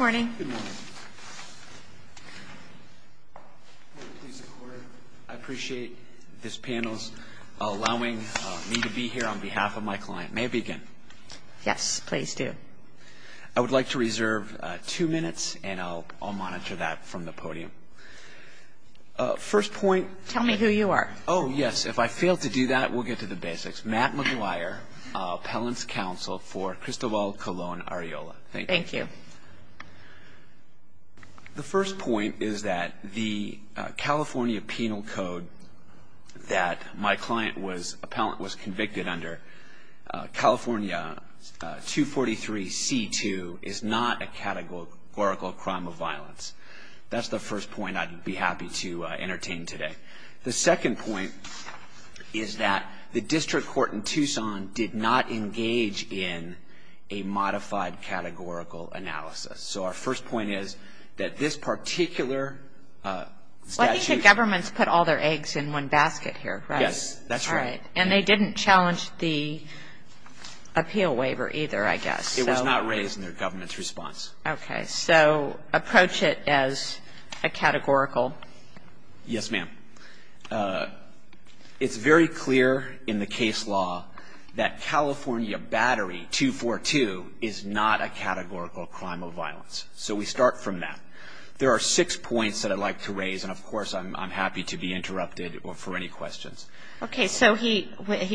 I appreciate this panel's allowing me to be here on behalf of my client. May I begin? Yes, please do. I would like to reserve two minutes and I'll monitor that from the podium. First point... Tell me who you are. Oh, yes. If I fail to do that, we'll get to the basics. Matt McGuire, Appellant's Counsel for Cristobal Colon-Arreola. Thank you. Thank you. The first point is that the California Penal Code that my client was...appellant was convicted under, California 243C2, is not a categorical crime of violence. That's the first point I'd be happy to entertain today. The second point is that the district court in Tucson did not engage in a modified categorical analysis. So our first point is that this particular statute... Well, I think the government's put all their eggs in one basket here, right? Yes, that's right. All right. And they didn't challenge the appeal waiver either, I guess. It was not raised in their government's response. Okay. So approach it as a categorical... Yes, ma'am. It's very clear in the case law that California Battery 242 is not a categorical crime of violence. So we start from that. There are six points that I'd like to raise, and, of course, I'm happy to be interrupted for any questions. Okay. So he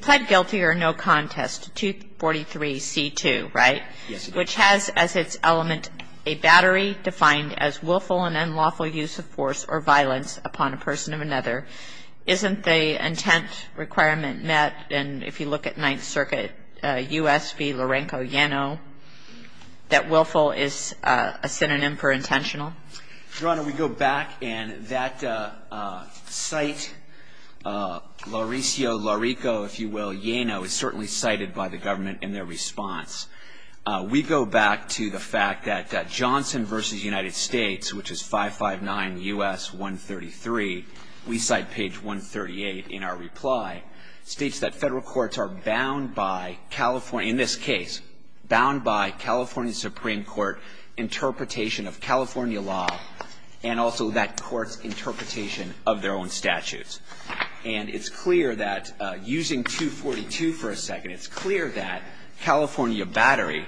pled guilty or no contest to 243C2, right? Yes, he did. Your Honor, 243C2, which has as its element a battery defined as willful and unlawful use of force or violence upon a person of another, isn't the intent requirement met? And if you look at Ninth Circuit, U.S. v. Lorenco-Yano, that willful is a synonym for intentional. Your Honor, we go back, and that cite, Lorenco-Yano is certainly cited by the government in their response. We go back to the fact that Johnson v. United States, which is 559 U.S. 133, we cite page 138 in our reply, states that federal courts are bound by California, in this case, bound by California Supreme Court interpretation of California law and also that court's interpretation of their own statutes. And it's clear that using 242 for a second, it's clear that California battery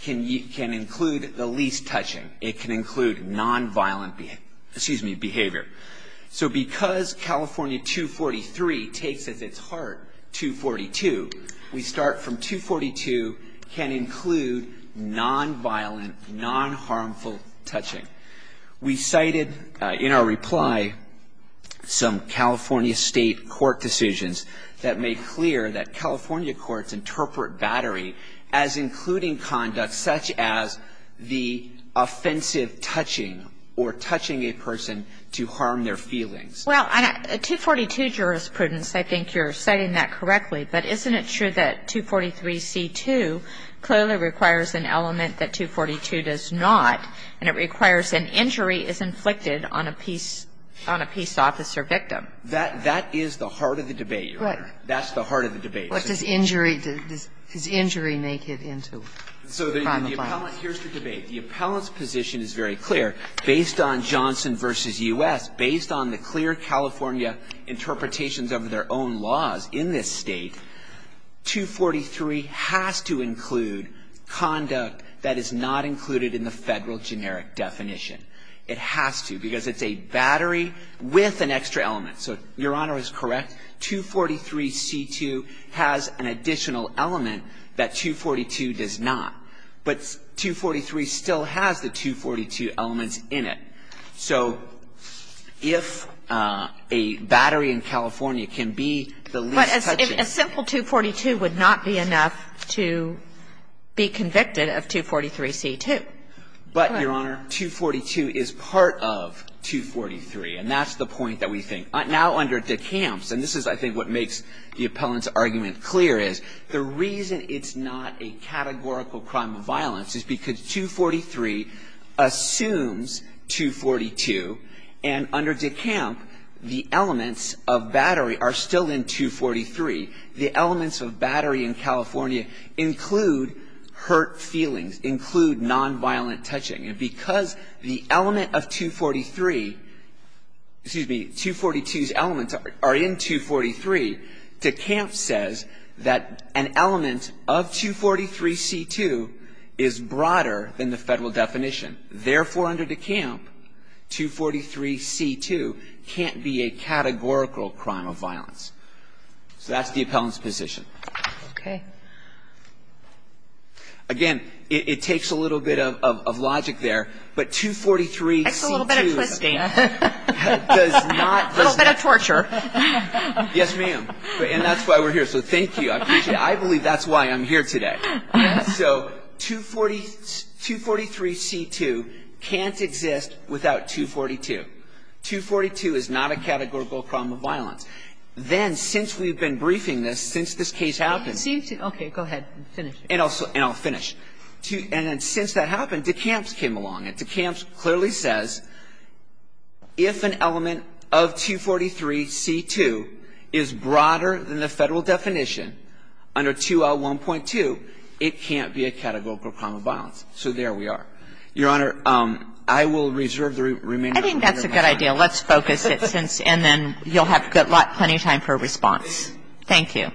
can include the least touching. It can include nonviolent behavior. So because California 243 takes as its heart 242, we start from 242 can include nonviolent, nonharmful touching. We cited in our reply some California state court decisions that make clear that California courts interpret battery as including conduct such as the offensive touching or touching a person to harm their feelings. Well, 242 jurisprudence, I think you're citing that correctly. But isn't it true that 243c2 clearly requires an element that 242 does not, and it requires an injury as inflicted on a peace officer victim? That is the heart of the debate, Your Honor. That's the heart of the debate. What does injury make it into? So the appellant, here's the debate. The appellant's position is very clear. Based on Johnson v. U.S., based on the clear California interpretations of their own laws in this State, 243 has to include conduct that is not included in the Federal generic definition. It has to, because it's a battery with an extra element. So Your Honor is correct. 243c2 has an additional element that 242 does not. But 243 still has the 242 elements in it. So if a battery in California can be the least touching. But a simple 242 would not be enough to be convicted of 243c2. Correct. But, Your Honor, 242 is part of 243, and that's the point that we think. Now under DeCamps, and this is, I think, what makes the appellant's argument clear, is the reason it's not a categorical crime of violence is because 243 assumes 242, and under DeCamp, the elements of battery are still in 243. The elements of battery in California include hurt feelings, include nonviolent touching, and because the element of 243, excuse me, 242's elements are in 243, DeCamp says that an element of 243c2 is broader than the Federal definition. Therefore, under DeCamp, 243c2 can't be a categorical crime of violence. So that's the appellant's position. Okay. Again, it takes a little bit of logic there, but 243c2 does not... That's a little bit of twisting. A little bit of torture. Yes, ma'am. And that's why we're here. So thank you. I appreciate it. I believe that's why I'm here today. So 243c2 can't exist without 242. 242 is not a categorical crime of violence. Then, since we've been briefing this, since this case happened... Okay. Go ahead and finish. And I'll finish. And then since that happened, DeCamp came along, and DeCamp clearly says if an element of 243c2 is broader than the Federal definition under 201.2, it can't be a categorical crime of violence. So there we are. Your Honor, I will reserve the remainder of my time. I think that's a good idea. Let's focus it, and then you'll have plenty of time for a response. Thank you. Thank you.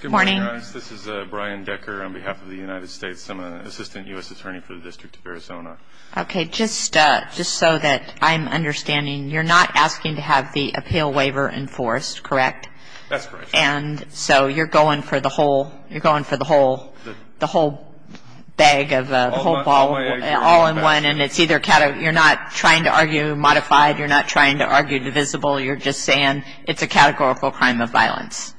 Good morning, Your Honor. This is Brian Decker on behalf of the United States. I'm an assistant U.S. attorney for the District of Arizona. Okay. Just so that I'm understanding, you're not asking to have the appeal waiver enforced, correct? That's correct, Your Honor. And so you're going for the whole, you're going for the whole, the whole bag of hope all in one, and it's either, you're not trying to argue modified, you're not trying to argue divisible, you're just saying it's a categorical crime of violence.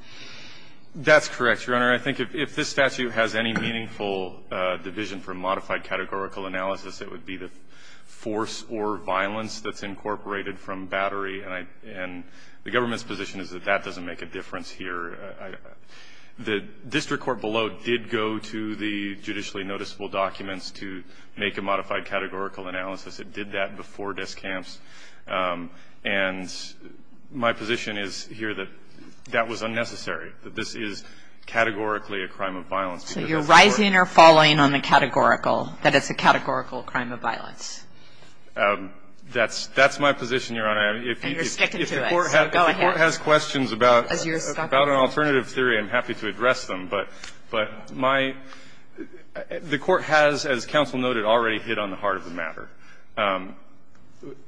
That's correct, Your Honor. I think if this statute has any meaningful division from modified categorical analysis, it would be the force or violence that's incorporated from battery, and the government's position is that that doesn't make a difference here. The district court below did go to the judicially noticeable documents to make a modified categorical analysis. It did that before desk camps. And my position is here that that was unnecessary, that this is categorically a crime of violence. So you're rising or falling on the categorical, that it's a categorical crime of violence? That's my position, Your Honor. And you're sticking to it. So go ahead. If the Court has questions about an alternative theory, I'm happy to address them. But my – the Court has, as counsel noted, already hit on the heart of the matter.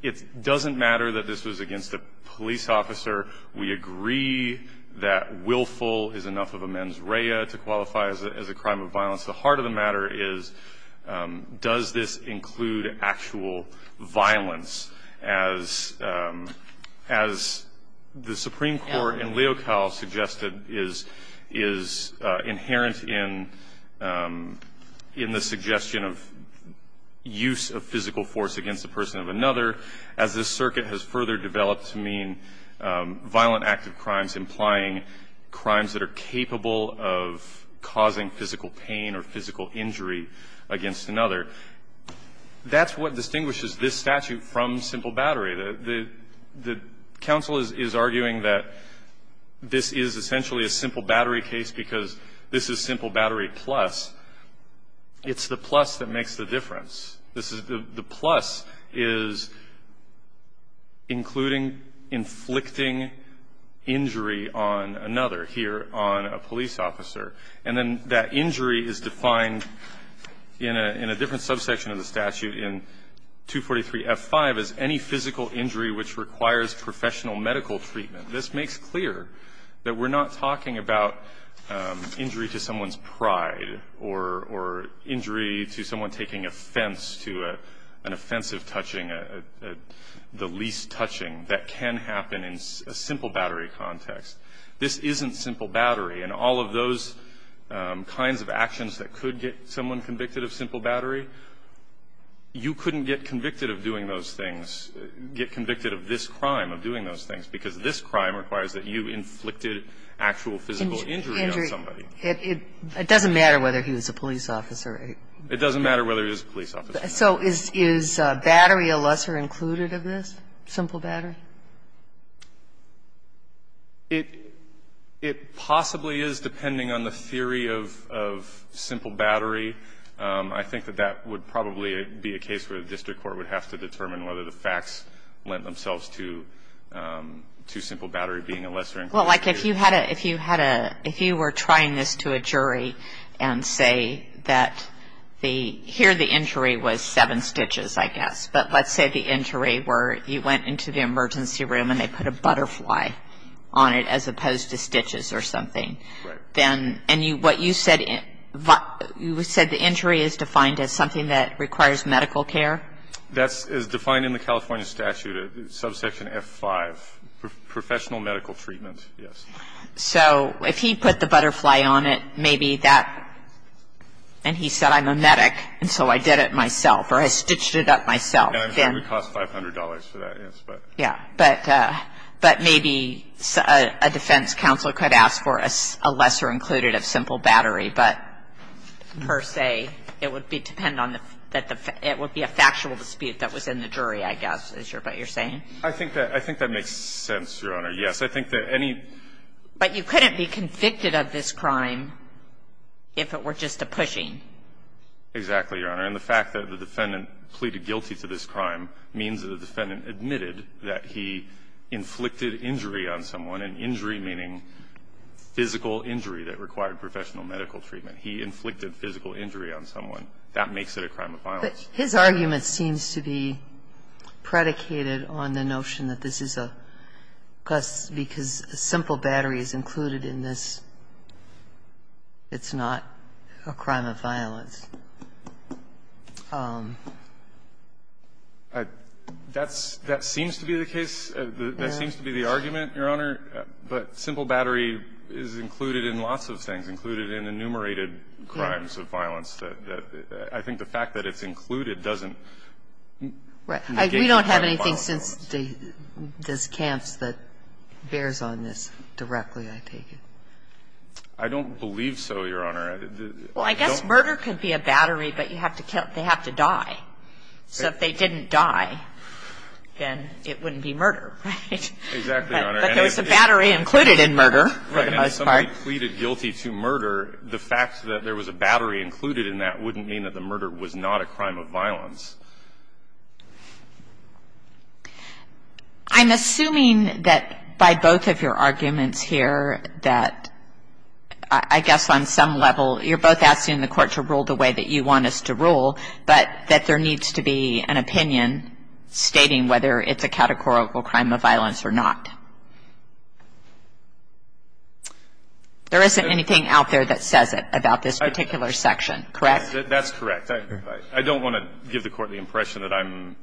It doesn't matter that this was against a police officer. We agree that willful is enough of a mens rea to qualify as a crime of violence. The heart of the matter is, does this include actual violence? As the Supreme Court in Leocal suggested is inherent in the suggestion of use of physical force against a person of another, as this circuit has further developed to mean injury against another. That's what distinguishes this statute from simple battery. The counsel is arguing that this is essentially a simple battery case because this is simple battery plus. It's the plus that makes the difference. The plus is including inflicting injury on another here on a police officer. And then that injury is defined in a different subsection of the statute in 243F5 as any physical injury which requires professional medical treatment. This makes clear that we're not talking about injury to someone's pride or injury to someone taking offense to an offensive touching, the least touching that can happen in a simple battery context. This isn't simple battery. And all of those kinds of actions that could get someone convicted of simple battery, you couldn't get convicted of doing those things, get convicted of this crime, of doing those things, because this crime requires that you inflicted actual physical injury on somebody. It doesn't matter whether he was a police officer. It doesn't matter whether he was a police officer. So is battery a lesser included of this, simple battery? It possibly is, depending on the theory of simple battery. I think that that would probably be a case where the district court would have to determine whether the facts lent themselves to simple battery being a lesser included. Well, like if you had a, if you were trying this to a jury and say that the, here the injury was seven stitches, I guess. But let's say the injury where you went into the emergency room and they put a butterfly on it as opposed to stitches or something. Right. Then, and what you said, you said the injury is defined as something that requires medical care? That is defined in the California statute, subsection F-5, professional medical treatment, yes. So if he put the butterfly on it, maybe that, and he said I'm a medic and so I did it myself, then. It would cost $500 for that, yes, but. Yeah. But maybe a defense counsel could ask for a lesser included of simple battery, but per se, it would be dependent on the, it would be a factual dispute that was in the jury, I guess, is what you're saying? I think that makes sense, Your Honor. Yes. I think that any. But you couldn't be convicted of this crime if it were just a pushing. Exactly, Your Honor. And the fact that the defendant pleaded guilty to this crime means that the defendant admitted that he inflicted injury on someone, and injury meaning physical injury that required professional medical treatment. He inflicted physical injury on someone. That makes it a crime of violence. But his argument seems to be predicated on the notion that this is a, because a simple battery is included in this, it's not a crime of violence. That's, that seems to be the case. That seems to be the argument, Your Honor. But simple battery is included in lots of things, included in enumerated crimes of violence. I think the fact that it's included doesn't. Right. We don't have anything since the camps that bears on this directly, I take it. I don't believe so, Your Honor. Well, I guess murder could be a battery, but they have to die. So if they didn't die, then it wouldn't be murder, right? Exactly, Your Honor. But there was a battery included in murder for the most part. Right. And if somebody pleaded guilty to murder, the fact that there was a battery included in that wouldn't mean that the murder was not a crime of violence. I'm assuming that by both of your arguments here that I guess on some level you're both asking the Court to rule the way that you want us to rule, but that there needs to be an opinion stating whether it's a categorical crime of violence or not. There isn't anything out there that says it about this particular section, correct? That's correct. I don't want to give the Court the impression that I'm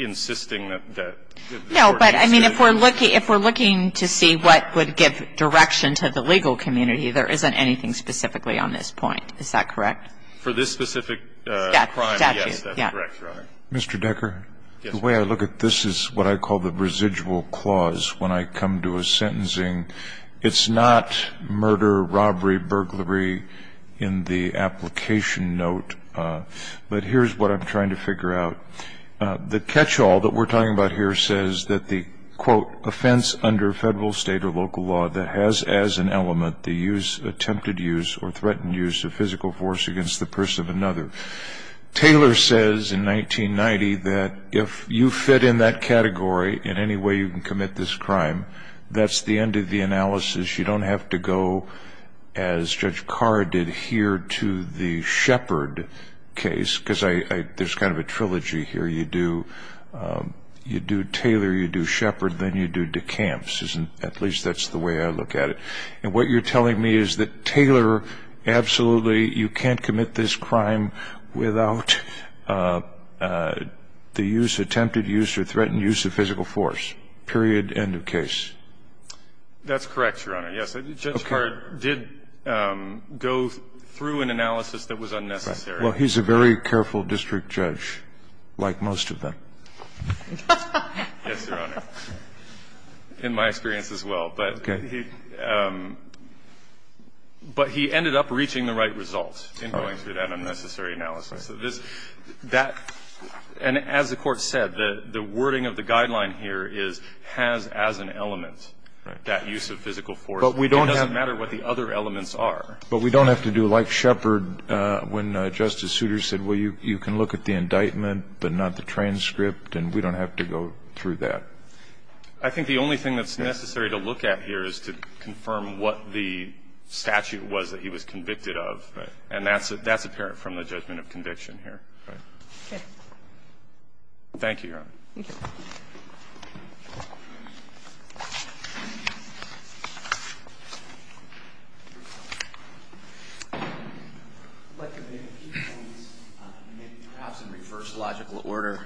insisting that the Court needs to be. No, but I mean, if we're looking to see what would give direction to the legal community, there isn't anything specifically on this point. Is that correct? For this specific crime, yes, that's correct, Your Honor. Mr. Decker, the way I look at this is what I call the residual clause when I come to a sentencing, it's not murder, robbery, burglary in the application note. But here's what I'm trying to figure out. The catch-all that we're talking about here says that the, quote, offense under Federal, State, or local law that has as an element the use, attempted use, or threatened use of physical force against the person of another. Taylor says in 1990 that if you fit in that category in any way you can commit this crime, that's the end of the analysis. You don't have to go as Judge Carr did here to the Shepard case, because there's kind of a trilogy here. You do Taylor, you do Shepard, then you do DeCamps, at least that's the way I look at it. And what you're telling me is that Taylor, absolutely, you can't commit this crime without the use, attempted use, or threatened use of physical force, period, end of case. That's correct, Your Honor. Yes, Judge Carr did go through an analysis that was unnecessary. Well, he's a very careful district judge, like most of them. Yes, Your Honor. In my experience as well. But he ended up reaching the right result in going through that unnecessary analysis. And as the Court said, the wording of the guideline here is has as an element that use of physical force. It doesn't matter what the other elements are. But we don't have to do like Shepard when Justice Souter said, well, you can look at the indictment but not the transcript, and we don't have to go through that. I think the only thing that's necessary to look at here is to confirm what the statute was that he was convicted of. Right. And that's apparent from the judgment of conviction here. Okay. Thank you, Your Honor. Thank you. Let me make a few points, perhaps in reverse logical order.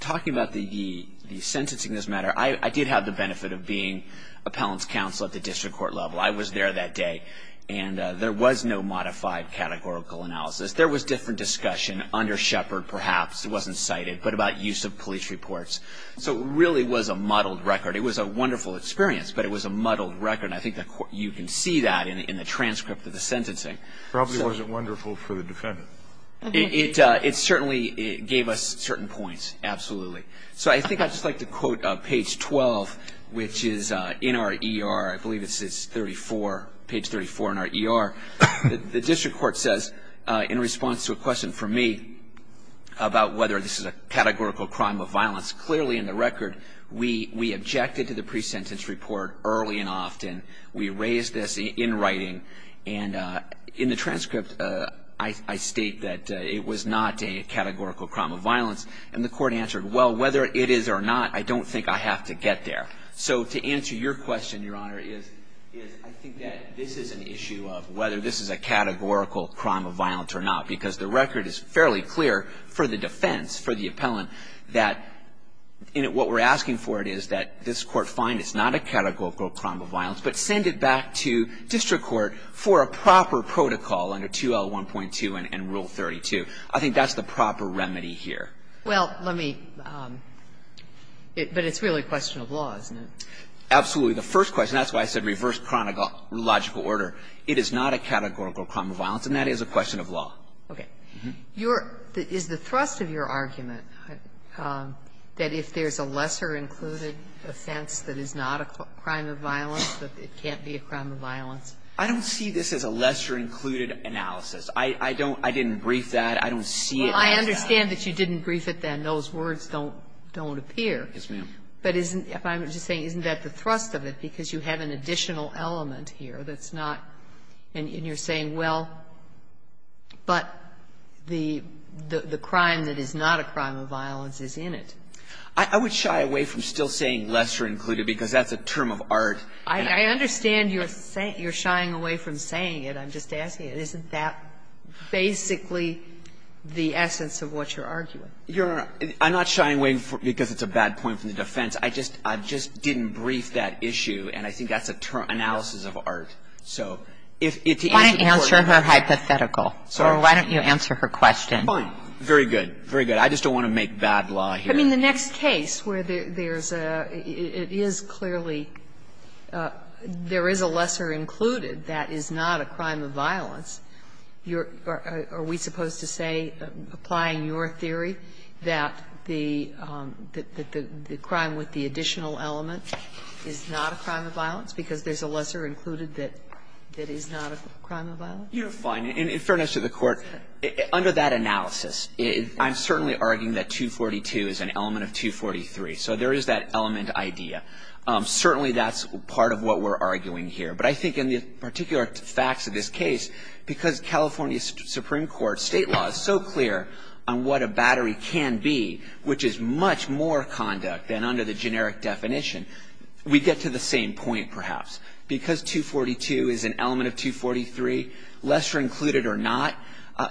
Talking about the sentencing as a matter, I did have the benefit of being appellant's counsel at the district court level. I was there that day. And there was no modified categorical analysis. There was different discussion under Shepard perhaps, it wasn't cited, but about use of police reports. So it really was a muddled record. It was a wonderful experience, but it was a muddled record. And I think you can see that in the transcript of the sentencing. It probably wasn't wonderful for the defendant. It certainly gave us certain points, absolutely. So I think I'd just like to quote page 12, which is in our ER, I believe it's 34, page 34 in our ER. The district court says, in response to a question from me, about whether this is a categorical crime of violence, clearly in the record we objected to the pre-sentence report early and often. We raised this in writing. And in the transcript I state that it was not a categorical crime of violence. And the court answered, well, whether it is or not, I don't think I have to get there. So to answer your question, Your Honor, is I think that this is an issue of whether this is a categorical crime of violence or not, because the record is fairly clear for the defense, for the appellant, that what we're asking for is that this Court find it's not a categorical crime of violence, but send it back to district court for a proper protocol under 2L1.2 and Rule 32. I think that's the proper remedy here. Well, let me – but it's really a question of law, isn't it? Absolutely. The first question, that's why I said reverse chronological order. It is not a categorical crime of violence, and that is a question of law. Okay. Is the thrust of your argument that if there's a lesser included offense that is not a crime of violence, that it can't be a crime of violence? I don't see this as a lesser included analysis. I don't see it as that. Well, I understand that you didn't brief it then. Those words don't appear. Yes, ma'am. But isn't – I'm just saying, isn't that the thrust of it? Because you have an additional element here that's not – and you're saying, well, but the crime that is not a crime of violence is in it. I would shy away from still saying lesser included, because that's a term of art. I understand you're shying away from saying it. I'm just asking. Isn't that basically the essence of what you're arguing? Your Honor, I'm not shying away because it's a bad point from the defense. I just – I just didn't brief that issue, and I think that's a term – analysis of art. So if the answer is important. Why don't you answer her hypothetical? Or why don't you answer her question? Fine. Very good. Very good. I just don't want to make bad law here. I mean, the next case where there's a – it is clearly – there is a lesser included that is not a crime of violence. Are we supposed to say, applying your theory, that the crime with the additional element is not a crime of violence because there's a lesser included that is not a crime of violence? You're fine. In fairness to the Court, under that analysis, I'm certainly arguing that 242 is an element of 243. So there is that element idea. Certainly, that's part of what we're arguing here. But I think in the particular facts of this case, because California Supreme Court state law is so clear on what a battery can be, which is much more conduct than under the generic definition, we get to the same point, perhaps. Because 242 is an element of 243, lesser included or not,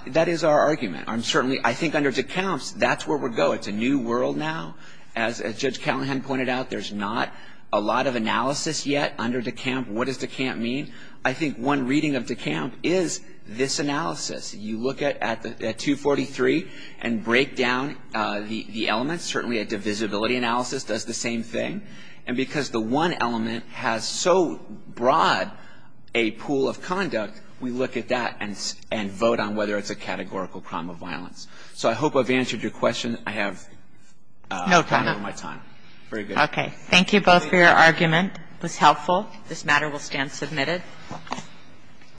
that is our argument. I'm certainly – I think under DeKalb's, that's where we're going. It's a new world now. As Judge Callahan pointed out, there's not a lot of analysis yet under DeKalb. What does DeKalb mean? I think one reading of DeKalb is this analysis. You look at 243 and break down the elements. Certainly, a divisibility analysis does the same thing. And because the one element has so broad a pool of conduct, we look at that and vote on whether it's a categorical crime of violence. So I hope I've answered your question. I have no time. Very good. Okay. Thank you both for your argument. It was helpful. This matter will stand submitted.